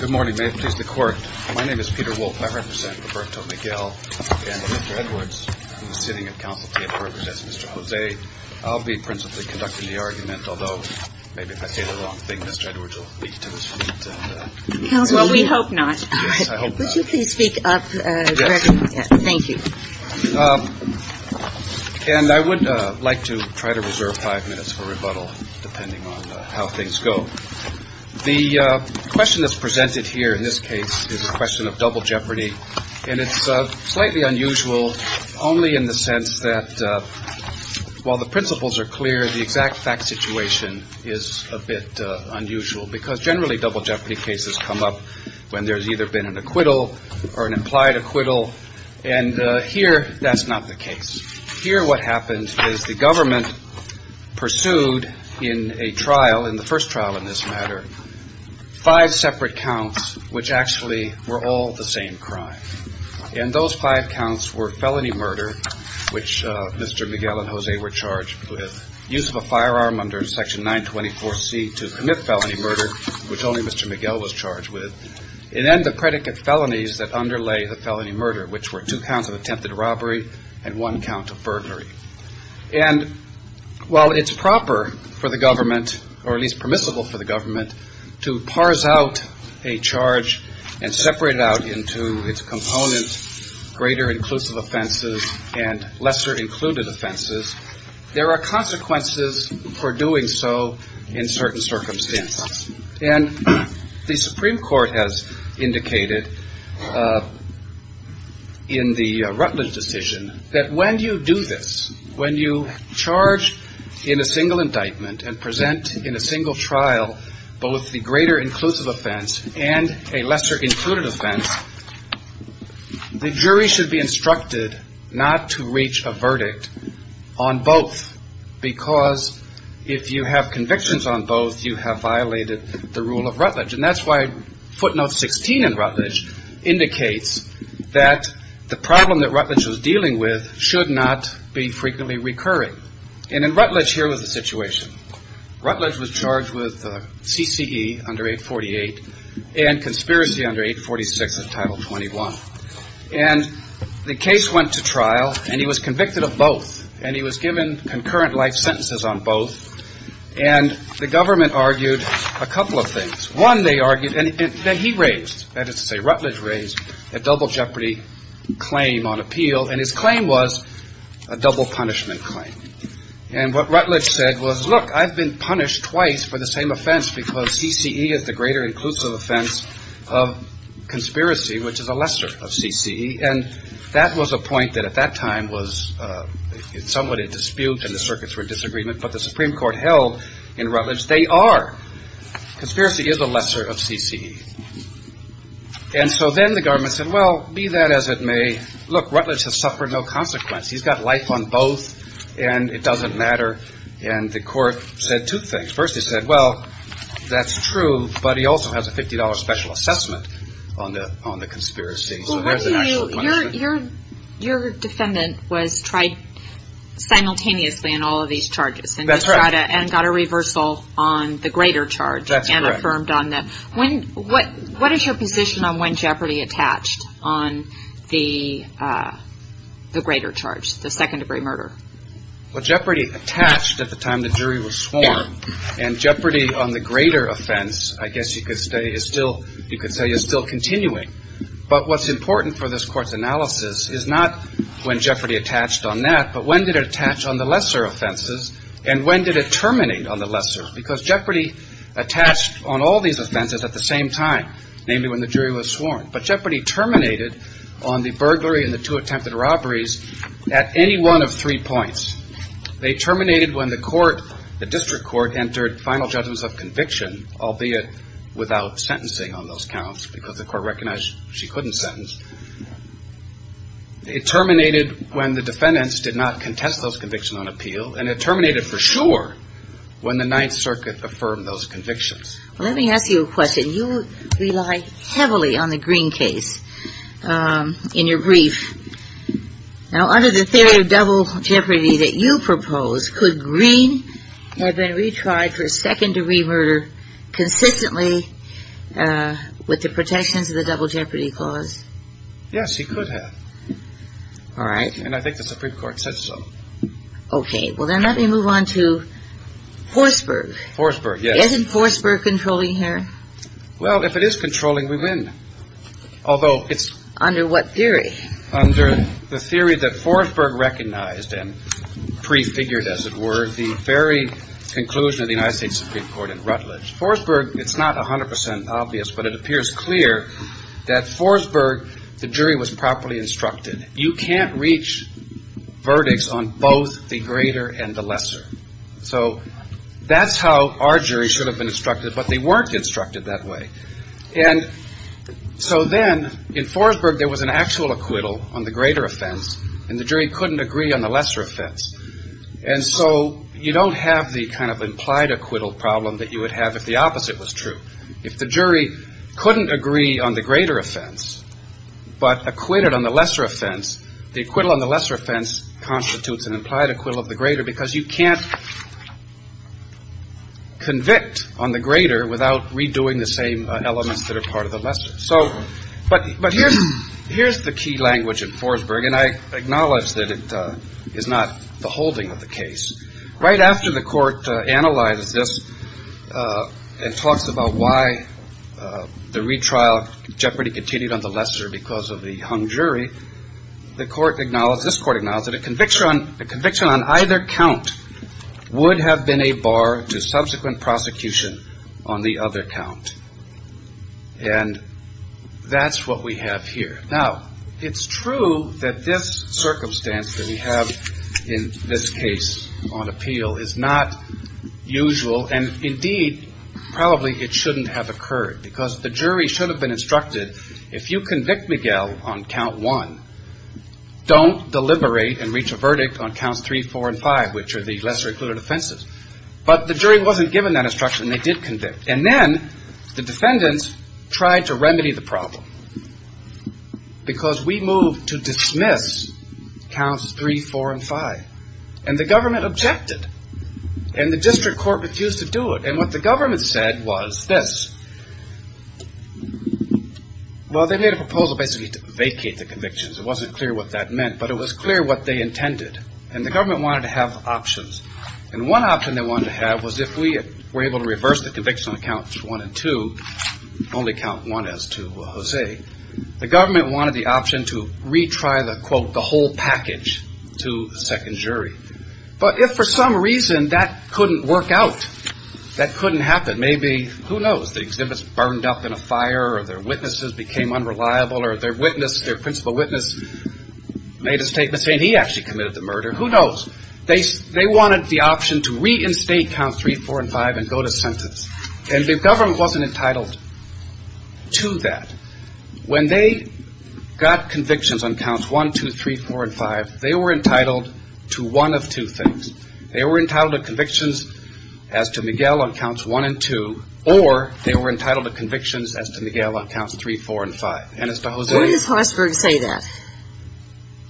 Good morning, may it please the court. My name is Peter Wolfe. I represent Roberto Miguel and Mr. Edwards from the sitting of counsel table represents Mr. Jose. I'll be principally conducting the argument, although maybe if I say the wrong thing, Mr. Edwards will leap to his feet. Well, we hope not. Yes, I hope not. Would you please speak up? Yes. Thank you. And I would like to try to reserve five minutes for rebuttal depending on how things go. The question that's presented here in this case is a question of double jeopardy. And it's slightly unusual only in the sense that while the principles are clear, the exact fact situation is a bit unusual, because generally double jeopardy cases come up when there's either been an acquittal or an implied acquittal. And here that's not the case here. What happens is the government pursued in a trial in the first trial in this matter, five separate counts which actually were all the same crime. And those five counts were felony murder, which Mr. Miguel and Jose were charged with. Use of a firearm under Section 924 C to commit felony murder, which only Mr. Miguel was charged with. And then the predicate felonies that underlay the felony murder, which were two counts of attempted robbery and one count of burglary. And while it's proper for the government, or at least permissible for the government, to parse out a charge and separate it out into its components, greater inclusive offenses and lesser included offenses, there are consequences for doing so in certain circumstances. And the Supreme Court has indicated in the Rutledge decision that when you do this, when you charge in a single indictment and present in a single trial both the greater inclusive offense and a lesser included offense, the jury should be instructed not to reach a verdict on both, because if you have convictions on both, you have violated the rule of Rutledge. And that's why footnote 16 in Rutledge indicates that the problem that Rutledge was dealing with should not be frequently recurring. And in Rutledge, here was the situation. Rutledge was charged with CCE under 848 and conspiracy under 846 of Title 21. And the case went to trial, and he was convicted of both. And he was given concurrent life sentences on both. And the government argued a couple of things. One, they argued, and he raised, that is to say, Rutledge raised a double jeopardy claim on appeal. And his claim was a double punishment claim. And what Rutledge said was, look, I've been punished twice for the same offense because CCE is the greater inclusive offense of conspiracy, which is a lesser of CCE. And that was a point that at that time was somewhat in dispute, and the circuits were in disagreement. But the Supreme Court held in Rutledge they are. Conspiracy is a lesser of CCE. And so then the government said, well, be that as it may, look, Rutledge has suffered no consequence. He's got life on both, and it doesn't matter. And the court said two things. First, they said, well, that's true, but he also has a $50 special assessment on the conspiracy. So there's an actual punishment. Your defendant was tried simultaneously on all of these charges. That's right. And got a reversal on the greater charge. That's correct. And affirmed on that. What is your position on when jeopardy attached on the greater charge, the second-degree murder? Well, jeopardy attached at the time the jury was sworn. And jeopardy on the greater offense, I guess you could say, is still continuing. But what's important for this Court's analysis is not when jeopardy attached on that, but when did it attach on the lesser offenses, and when did it terminate on the lesser? Because jeopardy attached on all these offenses at the same time, namely when the jury was sworn. But jeopardy terminated on the burglary and the two attempted robberies at any one of three points. They terminated when the court, the district court, entered final judgments of conviction, albeit without sentencing on those counts, because the court recognized she couldn't sentence. It terminated when the defendants did not contest those convictions on appeal, and it terminated for sure when the Ninth Circuit affirmed those convictions. Well, let me ask you a question. You rely heavily on the Green case in your brief. Now, under the theory of double jeopardy that you propose, could Green have been retried for second-degree murder consistently with the protections of the double jeopardy clause? Yes, he could have. All right. And I think the Supreme Court said so. Okay. Well, then let me move on to Forsberg. Forsberg, yes. Isn't Forsberg controlling here? Well, if it is controlling, we win, although it's… Under what theory? Under the theory that Forsberg recognized and prefigured, as it were, the very conclusion of the United States Supreme Court in Rutledge. Forsberg, it's not 100 percent obvious, but it appears clear that Forsberg, the jury was properly instructed. So that's how our jury should have been instructed, but they weren't instructed that way. And so then, in Forsberg, there was an actual acquittal on the greater offense, and the jury couldn't agree on the lesser offense. And so you don't have the kind of implied acquittal problem that you would have if the opposite was true. If the jury couldn't agree on the greater offense but acquitted on the lesser offense, the acquittal on the lesser offense constitutes an implied acquittal of the greater because you can't convict on the greater without redoing the same elements that are part of the lesser. But here's the key language in Forsberg, and I acknowledge that it is not the holding of the case. Right after the court analyzes this and talks about why the retrial jeopardy continued on the lesser because of the hung jury, the court acknowledged, this court acknowledged, that a conviction on either count would have been a bar to subsequent prosecution on the other count. And that's what we have here. Now, it's true that this circumstance that we have in this case on appeal is not usual, and, indeed, probably it shouldn't have occurred because the jury should have been instructed, if you convict Miguel on count one, don't deliberate and reach a verdict on counts three, four, and five, which are the lesser-included offenses. But the jury wasn't given that instruction, and they did convict. And then the defendants tried to remedy the problem because we moved to dismiss counts three, four, and five. And the government objected. And the district court refused to do it. And what the government said was this. Well, they made a proposal basically to vacate the convictions. It wasn't clear what that meant, but it was clear what they intended. And the government wanted to have options. And one option they wanted to have was if we were able to reverse the conviction on counts one and two, only count one as to Jose, the government wanted the option to retry the, quote, the whole package to a second jury. But if for some reason that couldn't work out, that couldn't happen, maybe, who knows, the exhibits burned up in a fire or their witnesses became unreliable or their principal witness made a statement saying he actually committed the murder, who knows? They wanted the option to reinstate counts three, four, and five and go to sentence. And the government wasn't entitled to that. When they got convictions on counts one, two, three, four, and five, they were entitled to one of two things. They were entitled to convictions as to Miguel on counts one and two, or they were entitled to convictions as to Miguel on counts three, four, and five. And as to Jose. Why does Forsberg say that?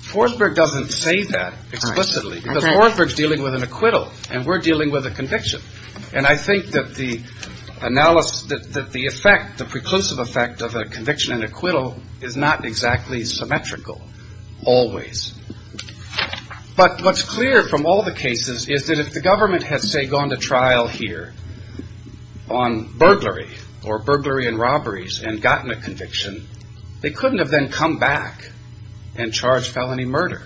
Forsberg doesn't say that explicitly because Forsberg is dealing with an acquittal and we're dealing with a conviction. And I think that the analysis, that the effect, the preclusive effect of a conviction and acquittal is not exactly symmetrical always. But what's clear from all the cases is that if the government had, say, gone to trial here on burglary or burglary and robberies and gotten a conviction, they couldn't have then come back and charged felony murder.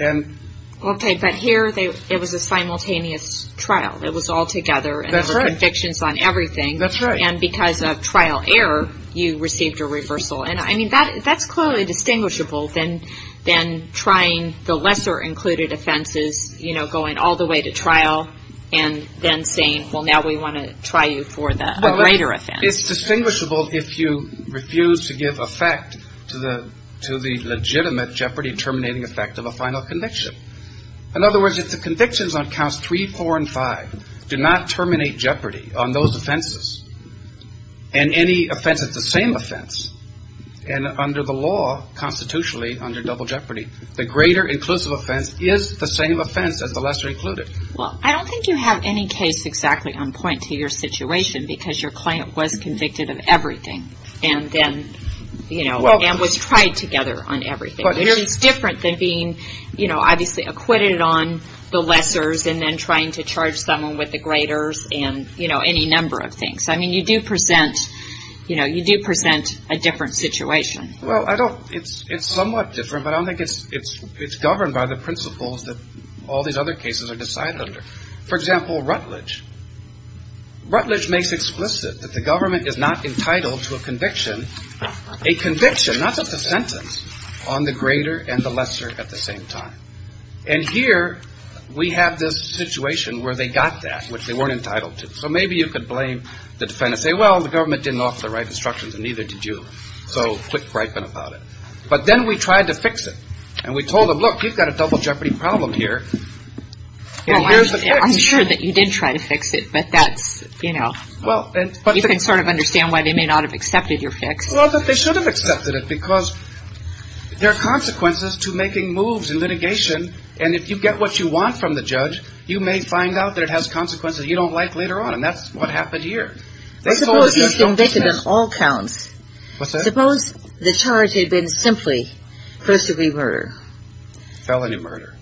Okay. But here it was a simultaneous trial. It was all together. That's right. And there were convictions on everything. That's right. And because of trial error, you received a reversal. And, I mean, that's clearly distinguishable than trying the lesser included offenses, you know, going all the way to trial and then saying, well, now we want to try you for a greater offense. It's distinguishable if you refuse to give effect to the legitimate jeopardy terminating effect of a final conviction. In other words, if the convictions on counts 3, 4, and 5 do not terminate jeopardy on those offenses and any offense is the same offense and under the law, constitutionally, under double jeopardy, the greater inclusive offense is the same offense as the lesser included. Well, I don't think you have any case exactly on point to your situation because your client was convicted of everything and then, you know, and was tried together on everything, which is different than being, you know, obviously acquitted on the lessers and then trying to charge someone with the greaters and, you know, any number of things. I mean, you do present, you know, you do present a different situation. Well, I don't – it's somewhat different, but I don't think it's governed by the principles that all these other cases are decided under. For example, Rutledge. Rutledge makes explicit that the government is not entitled to a conviction, a conviction, not just a sentence, on the greater and the lesser at the same time. And here we have this situation where they got that, which they weren't entitled to. So maybe you could blame the defendant and say, well, the government didn't offer the right instructions and neither did you, so quit griping about it. But then we tried to fix it, and we told them, look, you've got a double jeopardy problem here, and here's the fix. Well, I'm sure that you did try to fix it, but that's, you know, you can sort of understand why they may not have accepted your fix. Well, but they should have accepted it because there are consequences to making moves in litigation, and if you get what you want from the judge, you may find out that it has consequences you don't like later on, and that's what happened here. Suppose he's convicted on all counts. What's that? Suppose the charge had been simply first-degree murder. Felony murder.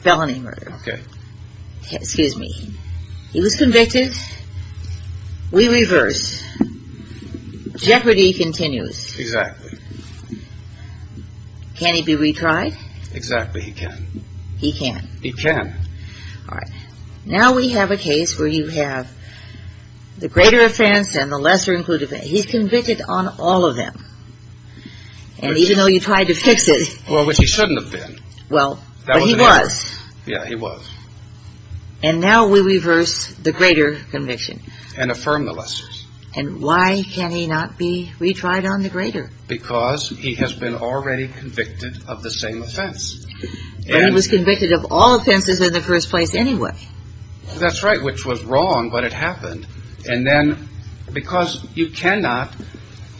Felony murder. Okay. Excuse me. He was convicted. We reverse. Jeopardy continues. Exactly. Can he be retried? Exactly, he can. He can. He can. All right. Now we have a case where you have the greater offense and the lesser-included offense. He's convicted on all of them, and even though you tried to fix it. Well, which he shouldn't have been. Well, but he was. Yeah, he was. And now we reverse the greater conviction. And affirm the lessers. And why can he not be retried on the greater? Because he has been already convicted of the same offense. But he was convicted of all offenses in the first place anyway. That's right, which was wrong, but it happened. And then because you cannot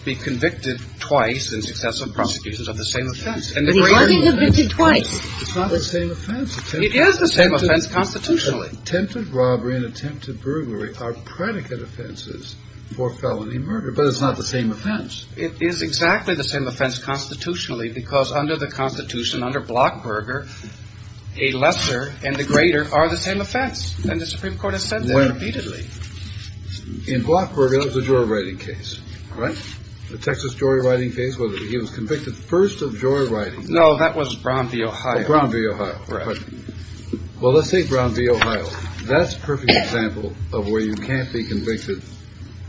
be convicted twice in successive prosecutions of the same offense. But he wasn't convicted twice. It's not the same offense. It is the same offense constitutionally. Attempted robbery and attempted burglary are predicate offenses for felony murder, but it's not the same offense. It is exactly the same offense constitutionally because under the Constitution, under Blockberger, a lesser and a greater are the same offense. And the Supreme Court has said that repeatedly. In Blockberger, the jury writing case, the Texas jury writing case, whether he was convicted first of jury writing. No, that was Brown v. Ohio. Brown v. Ohio. Well, let's say Brown v. Ohio. That's a perfect example of where you can't be convicted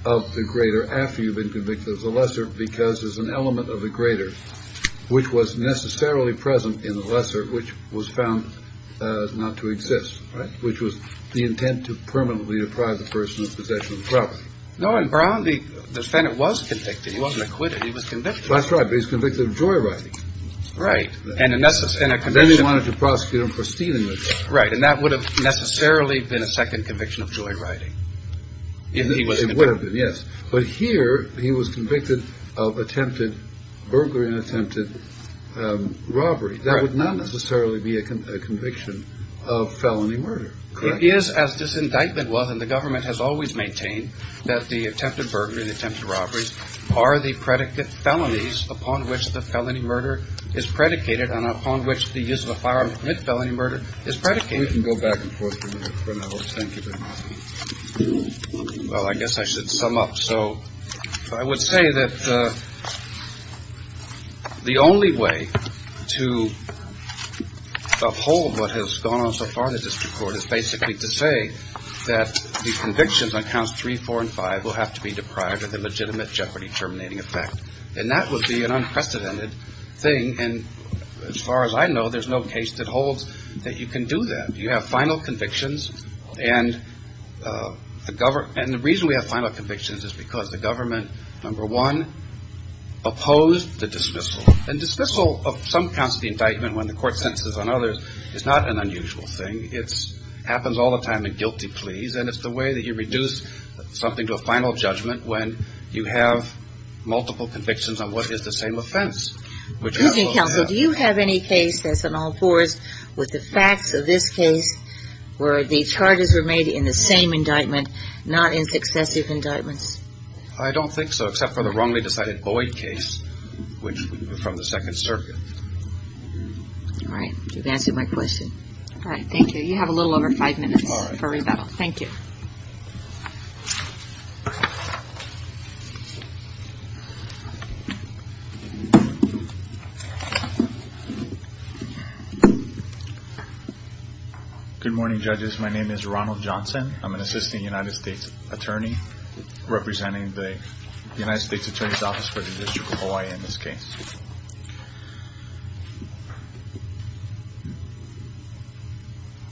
of the greater after you've been convicted of the lesser. Because there's an element of the greater which was necessarily present in the lesser, which was found not to exist. Right. Which was the intent to permanently deprive the person of possession of property. No, Brown v. The Senate was convicted. He wasn't acquitted. He was convicted. That's right. But he's convicted of jury writing. Right. And then they wanted to prosecute him for stealing the property. Right. And that would have necessarily been a second conviction of jury writing. It would have been, yes. But here he was convicted of attempted burglary and attempted robbery. That would not necessarily be a conviction of felony murder, correct? It is, as this indictment was, and the government has always maintained, that the attempted burglary and attempted robberies are the predicate felonies upon which the felony murder is predicated and upon which the use of a firearm to commit felony murder is predicated. We can go back and forth for a minute. Thank you very much. Well, I guess I should sum up. So I would say that the only way to uphold what has gone on so far in the district court is basically to say that the convictions on counts three, four and five will have to be deprived of the legitimate jeopardy terminating effect. And that would be an unprecedented thing. And as far as I know, there's no case that holds that you can do that. You have final convictions. And the reason we have final convictions is because the government, number one, opposed the dismissal. And dismissal of some counts of the indictment when the court sentences on others is not an unusual thing. It happens all the time in guilty pleas. And it's the way that you reduce something to a final judgment when you have multiple convictions on what is the same offense. Do you have any case that's on all fours with the facts of this case where the charges were made in the same indictment, not in successive indictments? I don't think so, except for the wrongly decided Boyd case, which was from the Second Circuit. All right. You've answered my question. All right. Thank you. You have a little over five minutes for rebuttal. Thank you. Good morning, judges. My name is Ronald Johnson. I'm an assistant United States attorney representing the United States Attorney's Office for the District of Hawaii in this case.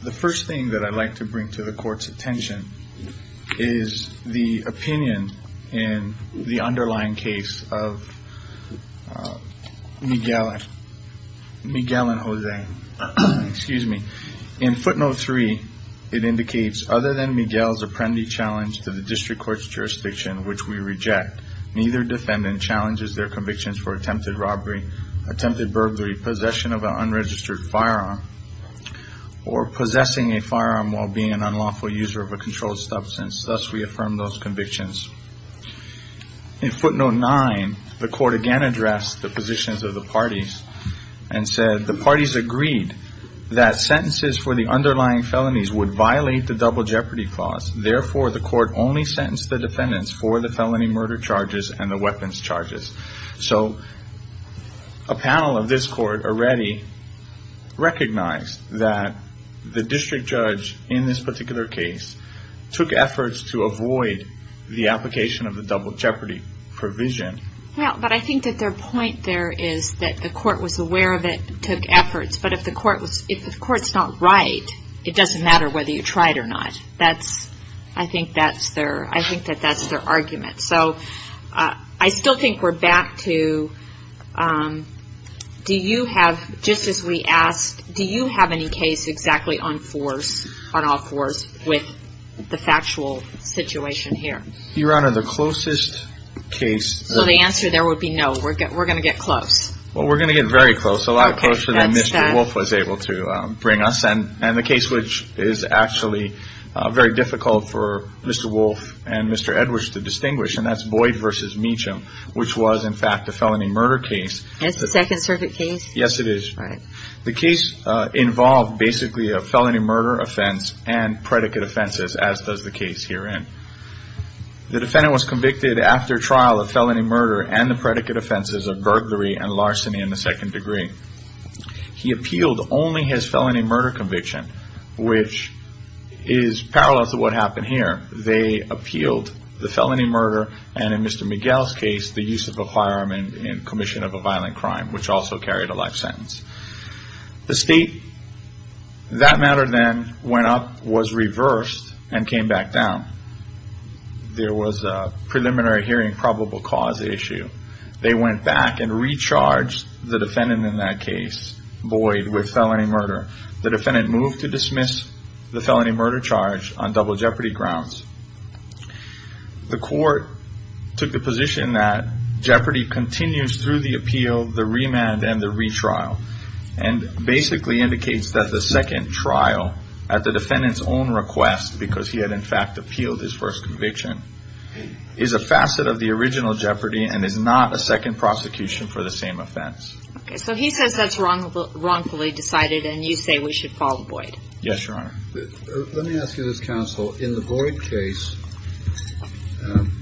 The first thing that I'd like to bring to the court's attention is the opinion in the underlying case of Miguel and Jose. Excuse me. In footnote three, it indicates other than Miguel's apprendee challenge to the district court's jurisdiction, which we reject, neither defendant challenges their convictions for attempted robbery, attempted burglary, possession of an unregistered firearm, or possessing a firearm while being an unlawful user of a controlled substance. Thus, we affirm those convictions. In footnote nine, the court again addressed the positions of the parties and said, the parties agreed that sentences for the underlying felonies would violate the double jeopardy clause. Therefore, the court only sentenced the defendants for the felony murder charges and the weapons charges. So a panel of this court already recognized that the district judge in this particular case took efforts to avoid the application of the double jeopardy provision. Well, but I think that their point there is that the court was aware of it and took efforts. But if the court's not right, it doesn't matter whether you try it or not. I think that that's their argument. So I still think we're back to do you have, just as we asked, do you have any case exactly on force, on all force, with the factual situation here? Your Honor, the closest case. So the answer there would be no. We're going to get close. Well, we're going to get very close. A lot closer than Mr. Wolf was able to bring us. And the case which is actually very difficult for Mr. Wolf and Mr. Edwards to distinguish, and that's Boyd versus Meacham, which was, in fact, a felony murder case. It's a Second Circuit case. Yes, it is. The case involved basically a felony murder offense and predicate offenses, as does the case herein. The defendant was convicted after trial of felony murder and the predicate offenses of burglary and larceny in the second degree. He appealed only his felony murder conviction, which is parallel to what happened here. They appealed the felony murder and, in Mr. Miguel's case, the use of a firearm in commission of a violent crime, which also carried a life sentence. The state, that matter then, went up, was reversed, and came back down. There was a preliminary hearing probable cause issue. They went back and recharged the defendant in that case, Boyd, with felony murder. The defendant moved to dismiss the felony murder charge on double jeopardy grounds. The court took the position that jeopardy continues through the appeal, the remand, and the retrial, and basically indicates that the second trial, at the defendant's own request, because he had, in fact, appealed his first conviction, is a facet of the original jeopardy and is not a second prosecution for the same offense. Okay, so he says that's wrongfully decided, and you say we should follow Boyd. Yes, Your Honor. Let me ask you this, counsel. In the Boyd case,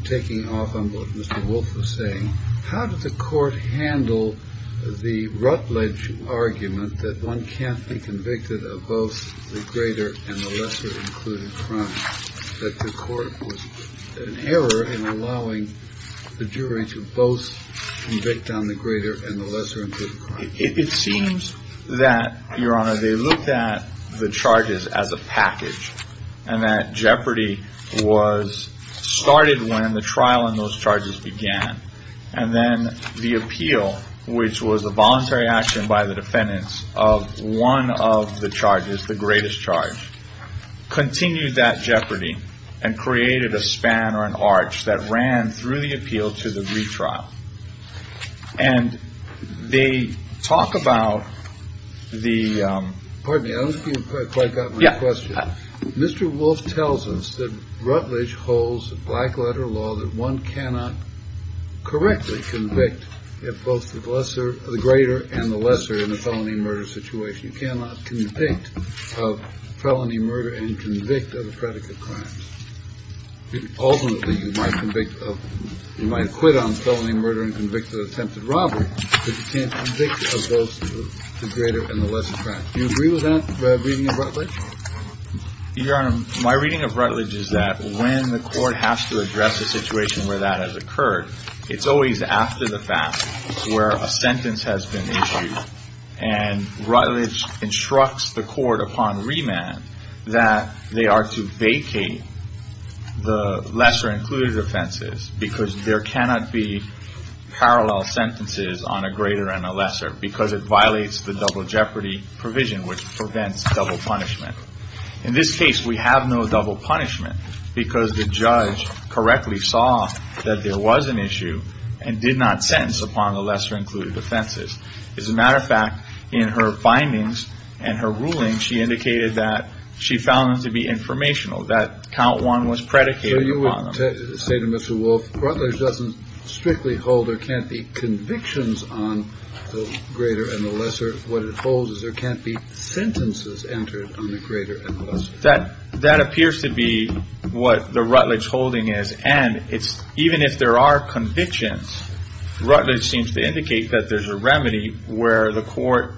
taking off on what Mr. Wolf was saying, how did the court handle the rutledge argument that one can't be convicted of both the greater and the lesser included crime, that the court was in error in allowing the jury to both convict on the greater and the lesser included crime? It seems that, Your Honor, they looked at the charges as a package, and that jeopardy was started when the trial on those charges began, and then the appeal, which was a voluntary action by the defendants of one of the charges, the greatest charge, continued that jeopardy and created a span or an arch that ran through the appeal to the retrial. And they talk about the. Pardon me, I don't think you quite got my question. Mr. Wolf tells us that Rutledge holds a black letter law that one cannot correctly convict if both the lesser, the greater and the lesser in a felony murder situation cannot convict of felony murder and convict of a predicate crime. Ultimately, you might convict, you might quit on felony murder and convict of attempted robbery, but you can't convict of both the greater and the lesser crime. Do you agree with that reading of Rutledge? Your Honor, my reading of Rutledge is that when the court has to address a situation where that has occurred, it's always after the fact where a sentence has been issued. And Rutledge instructs the court upon remand that they are to vacate the lesser included offenses because there cannot be parallel sentences on a greater and a lesser because it violates the double jeopardy provision, which prevents double punishment. In this case, we have no double punishment because the judge correctly saw that there was an issue and did not sentence upon the lesser included offenses. As a matter of fact, in her findings and her ruling, she indicated that she found them to be informational, that count one was predicated upon them. So you would say to Mr. Wolf, Rutledge doesn't strictly hold there can't be convictions on the greater and the lesser. What it holds is there can't be sentences entered on the greater and the lesser. That appears to be what the Rutledge holding is. And even if there are convictions, Rutledge seems to indicate that there's a remedy where the court,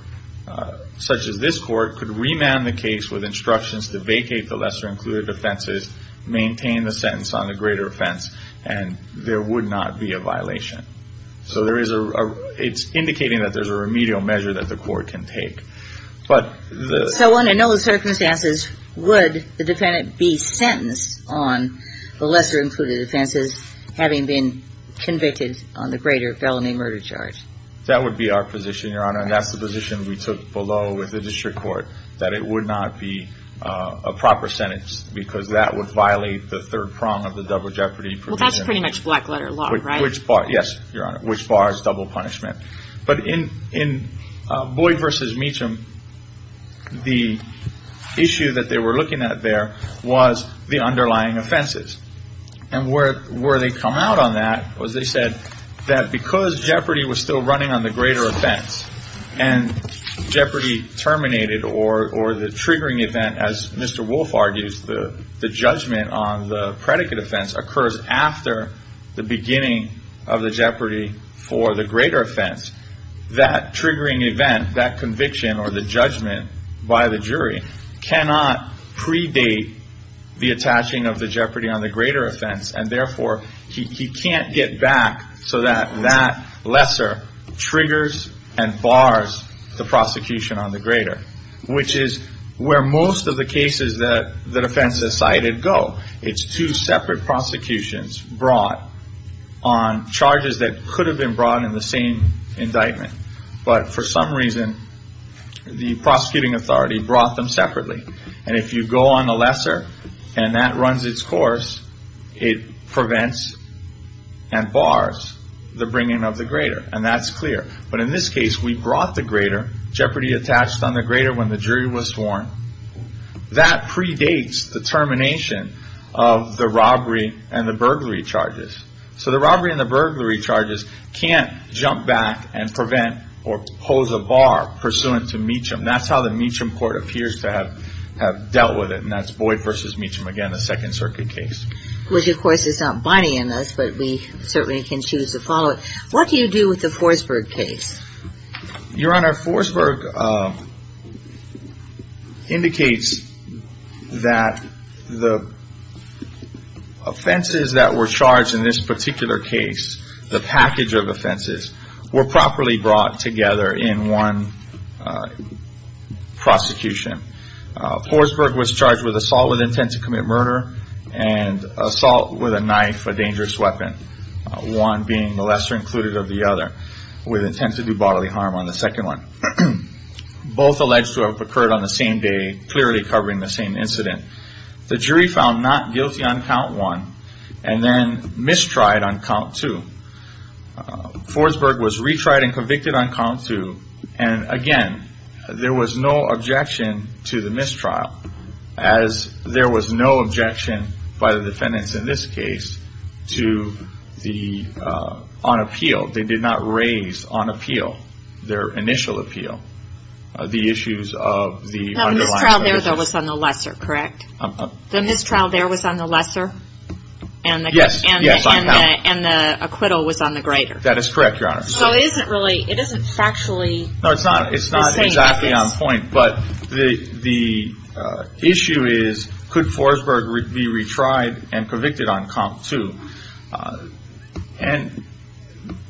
such as this court, could remand the case with instructions to vacate the lesser included offenses, maintain the sentence on the greater offense, and there would not be a violation. So it's indicating that there's a remedial measure that the court can take. So under those circumstances, would the defendant be sentenced on the lesser included offenses, having been convicted on the greater felony murder charge? That would be our position, Your Honor. And that's the position we took below with the district court, that it would not be a proper sentence because that would violate the third prong of the double jeopardy provision. Well, that's pretty much black letter law, right? Yes, Your Honor, which bars double punishment. But in Boyd v. Meacham, the issue that they were looking at there was the underlying offenses. And where they come out on that was they said that because jeopardy was still running on the greater offense and jeopardy terminated or the triggering event, as Mr. Wolf argues, the judgment on the predicate offense occurs after the beginning of the jeopardy for the greater offense, that triggering event, that conviction or the judgment by the jury, cannot predate the attaching of the jeopardy on the greater offense. And therefore, he can't get back so that that lesser triggers and bars the prosecution on the greater, which is where most of the cases that the defense has cited go. It's two separate prosecutions brought on charges that could have been brought in the same indictment. But for some reason, the prosecuting authority brought them separately. And if you go on the lesser and that runs its course, it prevents and bars the bringing of the greater. And that's clear. But in this case, we brought the greater, jeopardy attached on the greater when the jury was sworn. That predates the termination of the robbery and the burglary charges. So the robbery and the burglary charges can't jump back and prevent or pose a bar pursuant to Meacham. That's how the Meacham court appears to have dealt with it. And that's Boyd v. Meacham again, a Second Circuit case. Which, of course, is not binding on us, but we certainly can choose to follow it. What do you do with the Forsberg case? Your Honor, Forsberg indicates that the offenses that were charged in this particular case, the package of offenses, were properly brought together in one prosecution. Forsberg was charged with assault with intent to commit murder and assault with a knife, a dangerous weapon. One being the lesser included of the other, with intent to do bodily harm on the second one. Both alleged to have occurred on the same day, clearly covering the same incident. The jury found not guilty on count one and then mistried on count two. Forsberg was retried and convicted on count two. And again, there was no objection to the mistrial, as there was no objection by the defendants in this case on appeal. They did not raise on appeal, their initial appeal, the issues of the underlying... That mistrial there, though, was on the lesser, correct? The mistrial there was on the lesser? Yes, on count. And the acquittal was on the greater? That is correct, Your Honor. So it isn't really, it isn't factually... No, it's not exactly on point, but the issue is, could Forsberg be retried and convicted on count two? And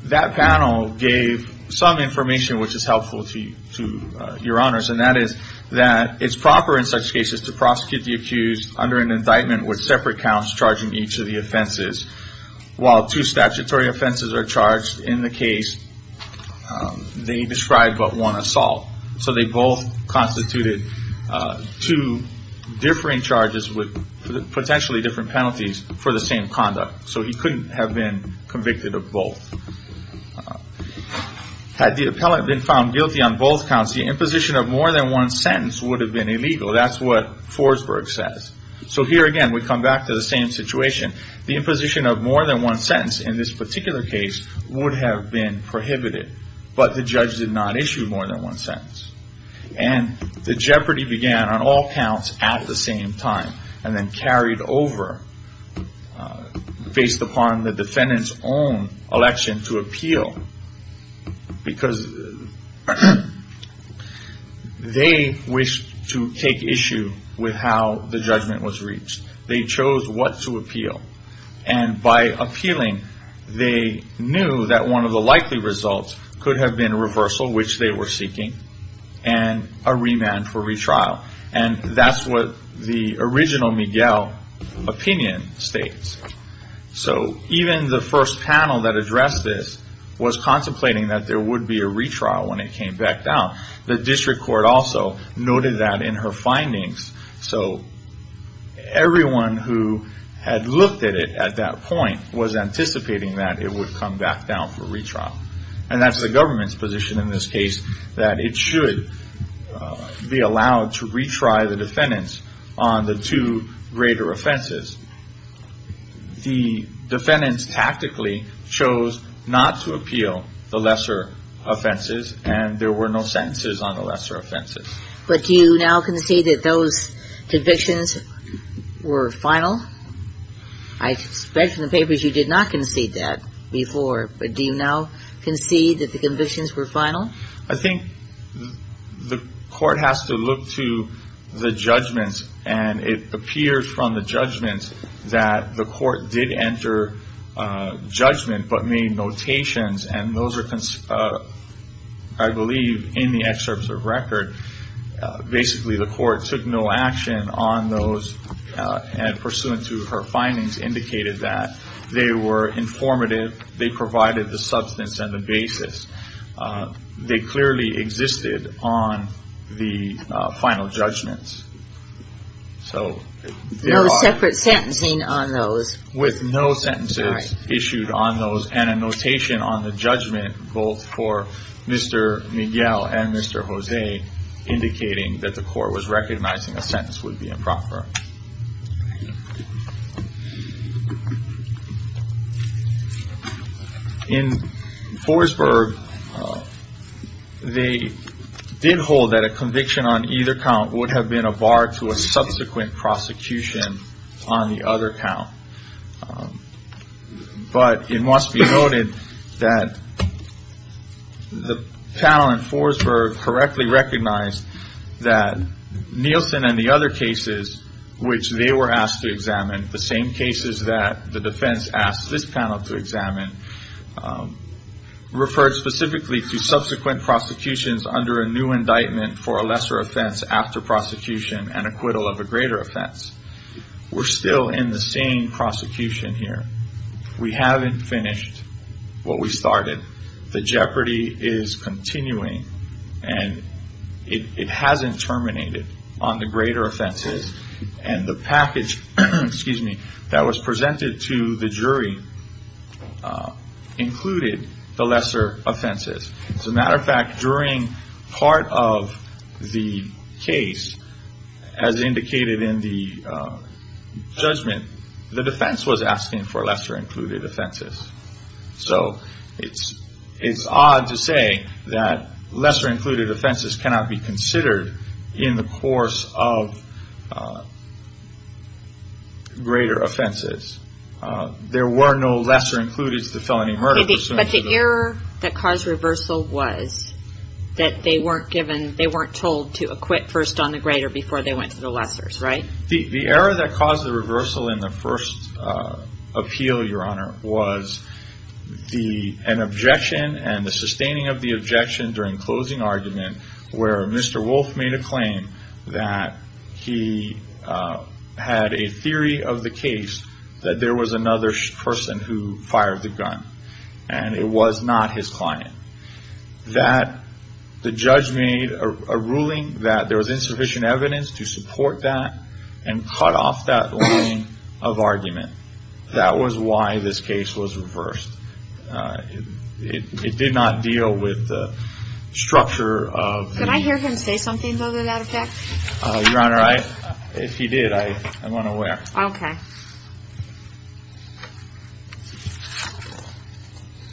that panel gave some information which is helpful to Your Honors, and that is that it's proper in such cases to prosecute the accused under an indictment with separate counts charging each of the offenses, while two statutory offenses are charged in the case. They describe but one assault. So they both constituted two differing charges with potentially different penalties for the same conduct. So he couldn't have been convicted of both. Had the appellant been found guilty on both counts, the imposition of more than one sentence would have been illegal. That's what Forsberg says. So here again, we come back to the same situation. The imposition of more than one sentence in this particular case would have been prohibited, but the judge did not issue more than one sentence. And the jeopardy began on all counts at the same time, and then carried over based upon the defendant's own election to appeal, because they wished to take issue with how the judgment was reached. They chose what to appeal. And by appealing, they knew that one of the likely results could have been reversal, which they were seeking, and a remand for retrial. And that's what the original Miguel opinion states. So even the first panel that addressed this was contemplating that there would be a retrial when it came back down. The district court also noted that in her findings. So everyone who had looked at it at that point was anticipating that it would come back down for retrial. And that's the government's position in this case, that it should be allowed to retry the defendants on the two greater offenses. The defendants tactically chose not to appeal the lesser offenses, and there were no sentences on the lesser offenses. But do you now concede that those convictions were final? I read from the papers you did not concede that before. But do you now concede that the convictions were final? I think the court has to look to the judgments, and it appears from the judgments that the court did enter judgment but made notations, and those are, I believe, in the excerpts of record. Basically, the court took no action on those, and pursuant to her findings, indicated that. They were informative. They provided the substance and the basis. They clearly existed on the final judgments. No separate sentencing on those? With no sentences issued on those and a notation on the judgment, both for Mr. Miguel and Mr. Jose, indicating that the court was recognizing a sentence would be improper. In Forsberg, they did hold that a conviction on either count would have been a bar to a subsequent prosecution on the other count. But it must be noted that the panel in Forsberg correctly recognized that Nielsen and the other cases, which they were asked to examine, the same cases that the defense asked this panel to examine, referred specifically to subsequent prosecutions under a new indictment for a lesser offense after prosecution and acquittal of a greater offense. We're still in the same prosecution here. We haven't finished what we started. The jeopardy is continuing, and it hasn't terminated on the greater offenses, and the package that was presented to the jury included the lesser offenses. As a matter of fact, during part of the case, as indicated in the judgment, the defense was asking for lesser-included offenses. So it's odd to say that lesser-included offenses cannot be considered in the course of greater offenses. There were no lesser-included to felony murder. But the error that caused reversal was that they weren't told to acquit first on the greater before they went to the lessers, right? The error that caused the reversal in the first appeal, Your Honor, was an objection and the sustaining of the objection during closing argument where Mr. Wolfe made a claim that he had a theory of the case that there was another person who fired the gun, and it was not his client. That the judge made a ruling that there was insufficient evidence to support that and cut off that line of argument. That was why this case was reversed. It did not deal with the structure of the... Can I hear him say something, though, to that effect? Your Honor, if he did, I'm unaware. Okay.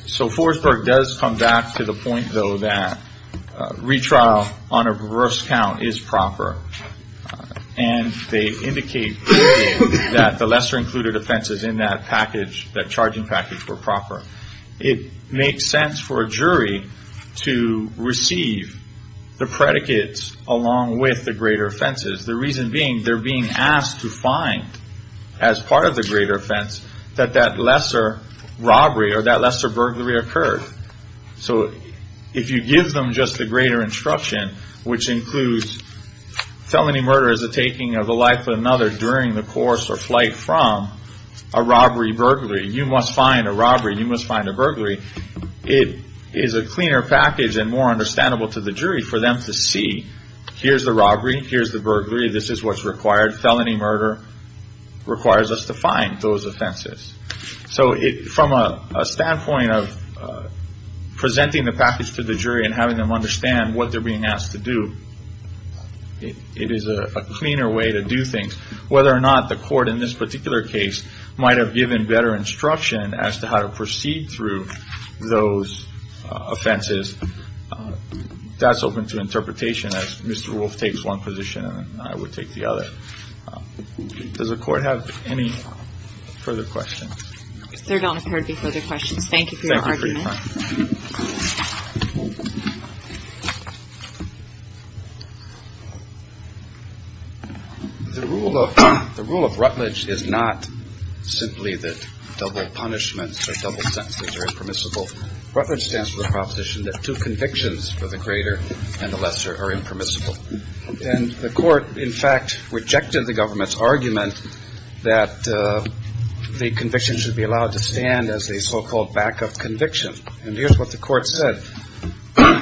So Forsberg does come back to the point, though, that retrial on a reverse count is proper. And they indicate that the lesser-included offenses in that package, that charging package, were proper. It makes sense for a jury to receive the predicates along with the greater offenses. The reason being, they're being asked to find, as part of the greater offense, that that lesser robbery or that lesser burglary occurred. So if you give them just the greater instruction, which includes felony murder as a taking of the life of another during the course or flight from a robbery, burglary, you must find a robbery, you must find a burglary, it is a cleaner package and more understandable to the jury for them to see here's the robbery, here's the burglary, this is what's required. Felony murder requires us to find those offenses. So from a standpoint of presenting the package to the jury and having them understand what they're being asked to do, it is a cleaner way to do things. Whether or not the court in this particular case might have given better instruction as to how to proceed through those offenses, that's open to interpretation as Mr. Wolf takes one position and I would take the other. Does the Court have any further questions? There don't appear to be further questions. Thank you for your argument. Thank you for your time. The rule of Rutledge is not simply that double punishments or double sentences are impermissible. Rutledge stands for the proposition that two convictions for the greater and the lesser are impermissible. And the Court, in fact, rejected the government's argument that the conviction should be allowed to stand as a so-called back-up conviction. And here's what the Court said.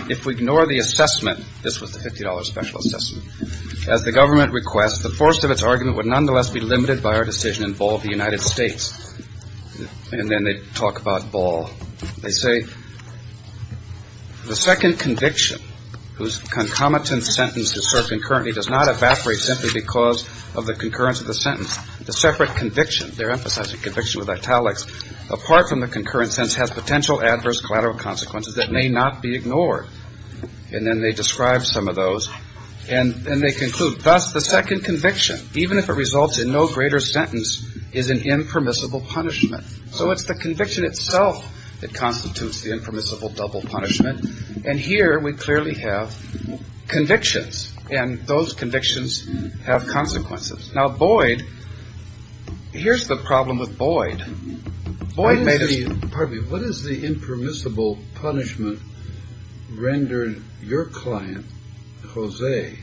If we ignore the assessment, this was the $50 special assessment, as the government requests the force of its argument would nonetheless be limited by our decision in ball of the United States. And then they talk about ball. They say the second conviction, whose concomitant sentence is served concurrently, does not evaporate simply because of the concurrence of the sentence. The separate conviction, they're emphasizing conviction with italics, apart from the concurrent sentence has potential adverse collateral consequences that may not be ignored. And then they describe some of those. And they conclude, thus, the second conviction, even if it results in no greater sentence, is an impermissible punishment. So it's the conviction itself that constitutes the impermissible double punishment. And here we clearly have convictions. And those convictions have consequences. Now, Boyd, here's the problem with Boyd. Boyd made a... rendered your client, Jose,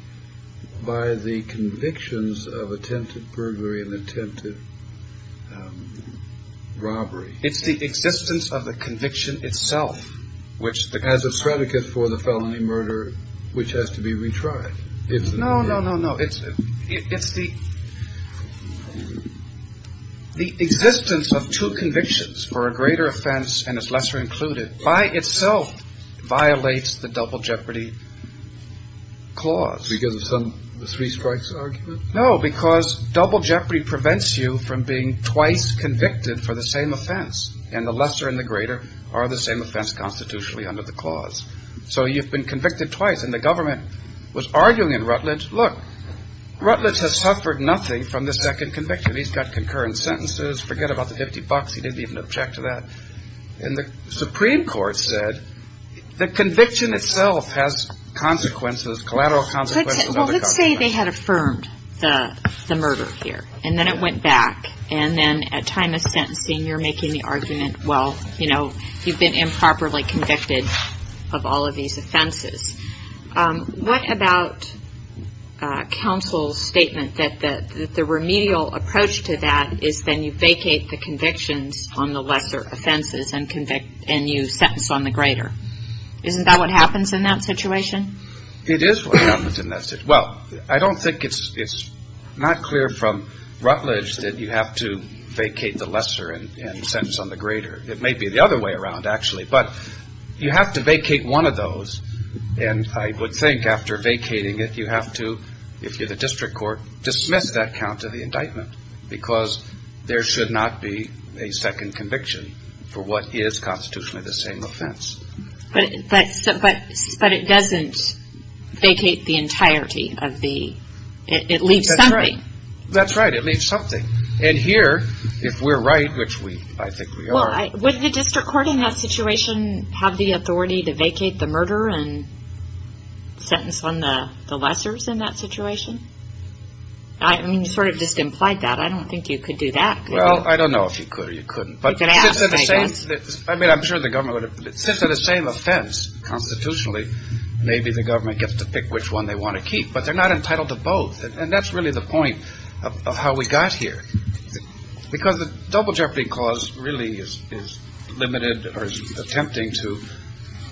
by the convictions of attempted burglary and attempted robbery. It's the existence of the conviction itself. As a predicate for the felony murder, which has to be retried. No, no, no, no. It's the existence of two convictions for a greater offense and its lesser included by itself violates the double jeopardy clause. Because of the three strikes argument? No, because double jeopardy prevents you from being twice convicted for the same offense. And the lesser and the greater are the same offense constitutionally under the clause. So you've been convicted twice. And the government was arguing in Rutledge, look, Rutledge has suffered nothing from the second conviction. He's got concurrent sentences. Forget about the 50 bucks. He didn't even object to that. And the Supreme Court said the conviction itself has consequences, collateral consequences. Well, let's say they had affirmed the murder here. And then it went back. And then at time of sentencing, you're making the argument, well, you know, you've been improperly convicted of all of these offenses. What about counsel's statement that the remedial approach to that is then you vacate the convictions on the lesser offenses and you sentence on the greater? Isn't that what happens in that situation? It is what happens in that situation. Well, I don't think it's not clear from Rutledge that you have to vacate the lesser and sentence on the greater. It may be the other way around, actually. But you have to vacate one of those. And I would think after vacating it, you have to, if you're the district court, dismiss that count of the indictment because there should not be a second conviction for what is constitutionally the same offense. But it doesn't vacate the entirety. It leaves something. That's right. It leaves something. And here, if we're right, which I think we are. Well, would the district court in that situation have the authority to vacate the murder and sentence on the lessers in that situation? I mean, you sort of just implied that. I don't think you could do that. Well, I don't know if you could or you couldn't. But since they're the same, I mean, I'm sure the government would have, since they're the same offense constitutionally, maybe the government gets to pick which one they want to keep. But they're not entitled to both. And that's really the point of how we got here. Because the Double Jeopardy Clause really is limited or is attempting to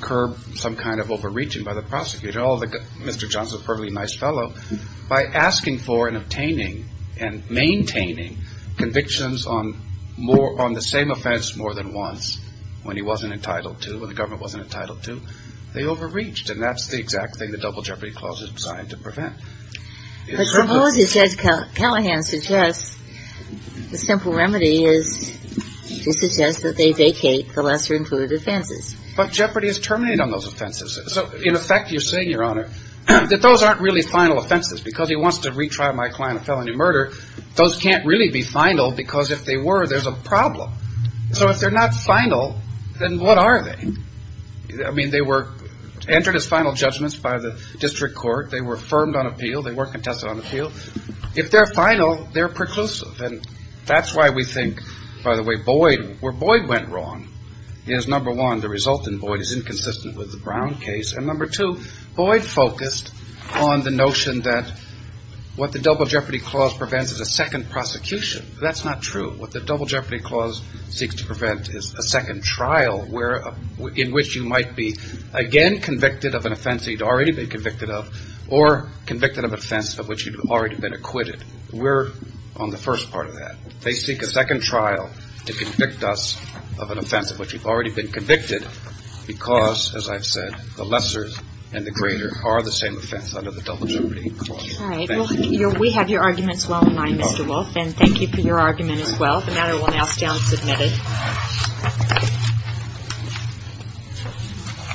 curb some kind of overreaching by the prosecutor. Mr. Johnson is a perfectly nice fellow. By asking for and obtaining and maintaining convictions on the same offense more than once, when he wasn't entitled to, when the government wasn't entitled to, they overreached. And that's the exact thing the Double Jeopardy Clause is designed to prevent. But suppose, as Ed Callahan suggests, the simple remedy is to suggest that they vacate the lesser included offenses. But jeopardy is terminated on those offenses. So, in effect, you're saying, Your Honor, that those aren't really final offenses. Because he wants to retry my client a felony murder, those can't really be final because if they were, there's a problem. So if they're not final, then what are they? I mean, they were entered as final judgments by the district court. They were affirmed on appeal. They were contested on appeal. If they're final, they're preclusive. And that's why we think, by the way, where Boyd went wrong is, number one, the result in Boyd is inconsistent with the Brown case, and number two, Boyd focused on the notion that what the Double Jeopardy Clause prevents is a second prosecution. That's not true. What the Double Jeopardy Clause seeks to prevent is a second trial in which you might be again convicted of an offense you'd already been convicted of or convicted of an offense of which you'd already been acquitted. We're on the first part of that. They seek a second trial to convict us of an offense of which we've already been convicted because, as I've said, the lesser and the greater are the same offense under the Double Jeopardy Clause. All right. Well, we have your arguments well in mind, Mr. Wolfe, and thank you for your argument as well. The matter will now stand submitted.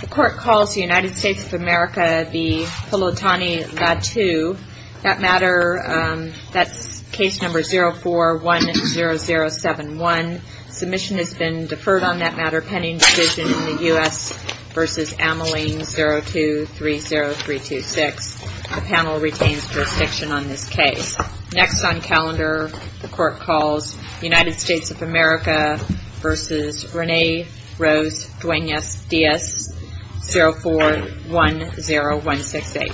The Court calls the United States of America the Pulutani-Lattu. That matter, that's case number 04-10071. Submission has been deferred on that matter pending decision in the U.S. v. Ameling 02-30326. The panel retains jurisdiction on this case. Next on calendar, the Court calls the United States of America v. Rene Rose Duenas-Diaz 04-10168.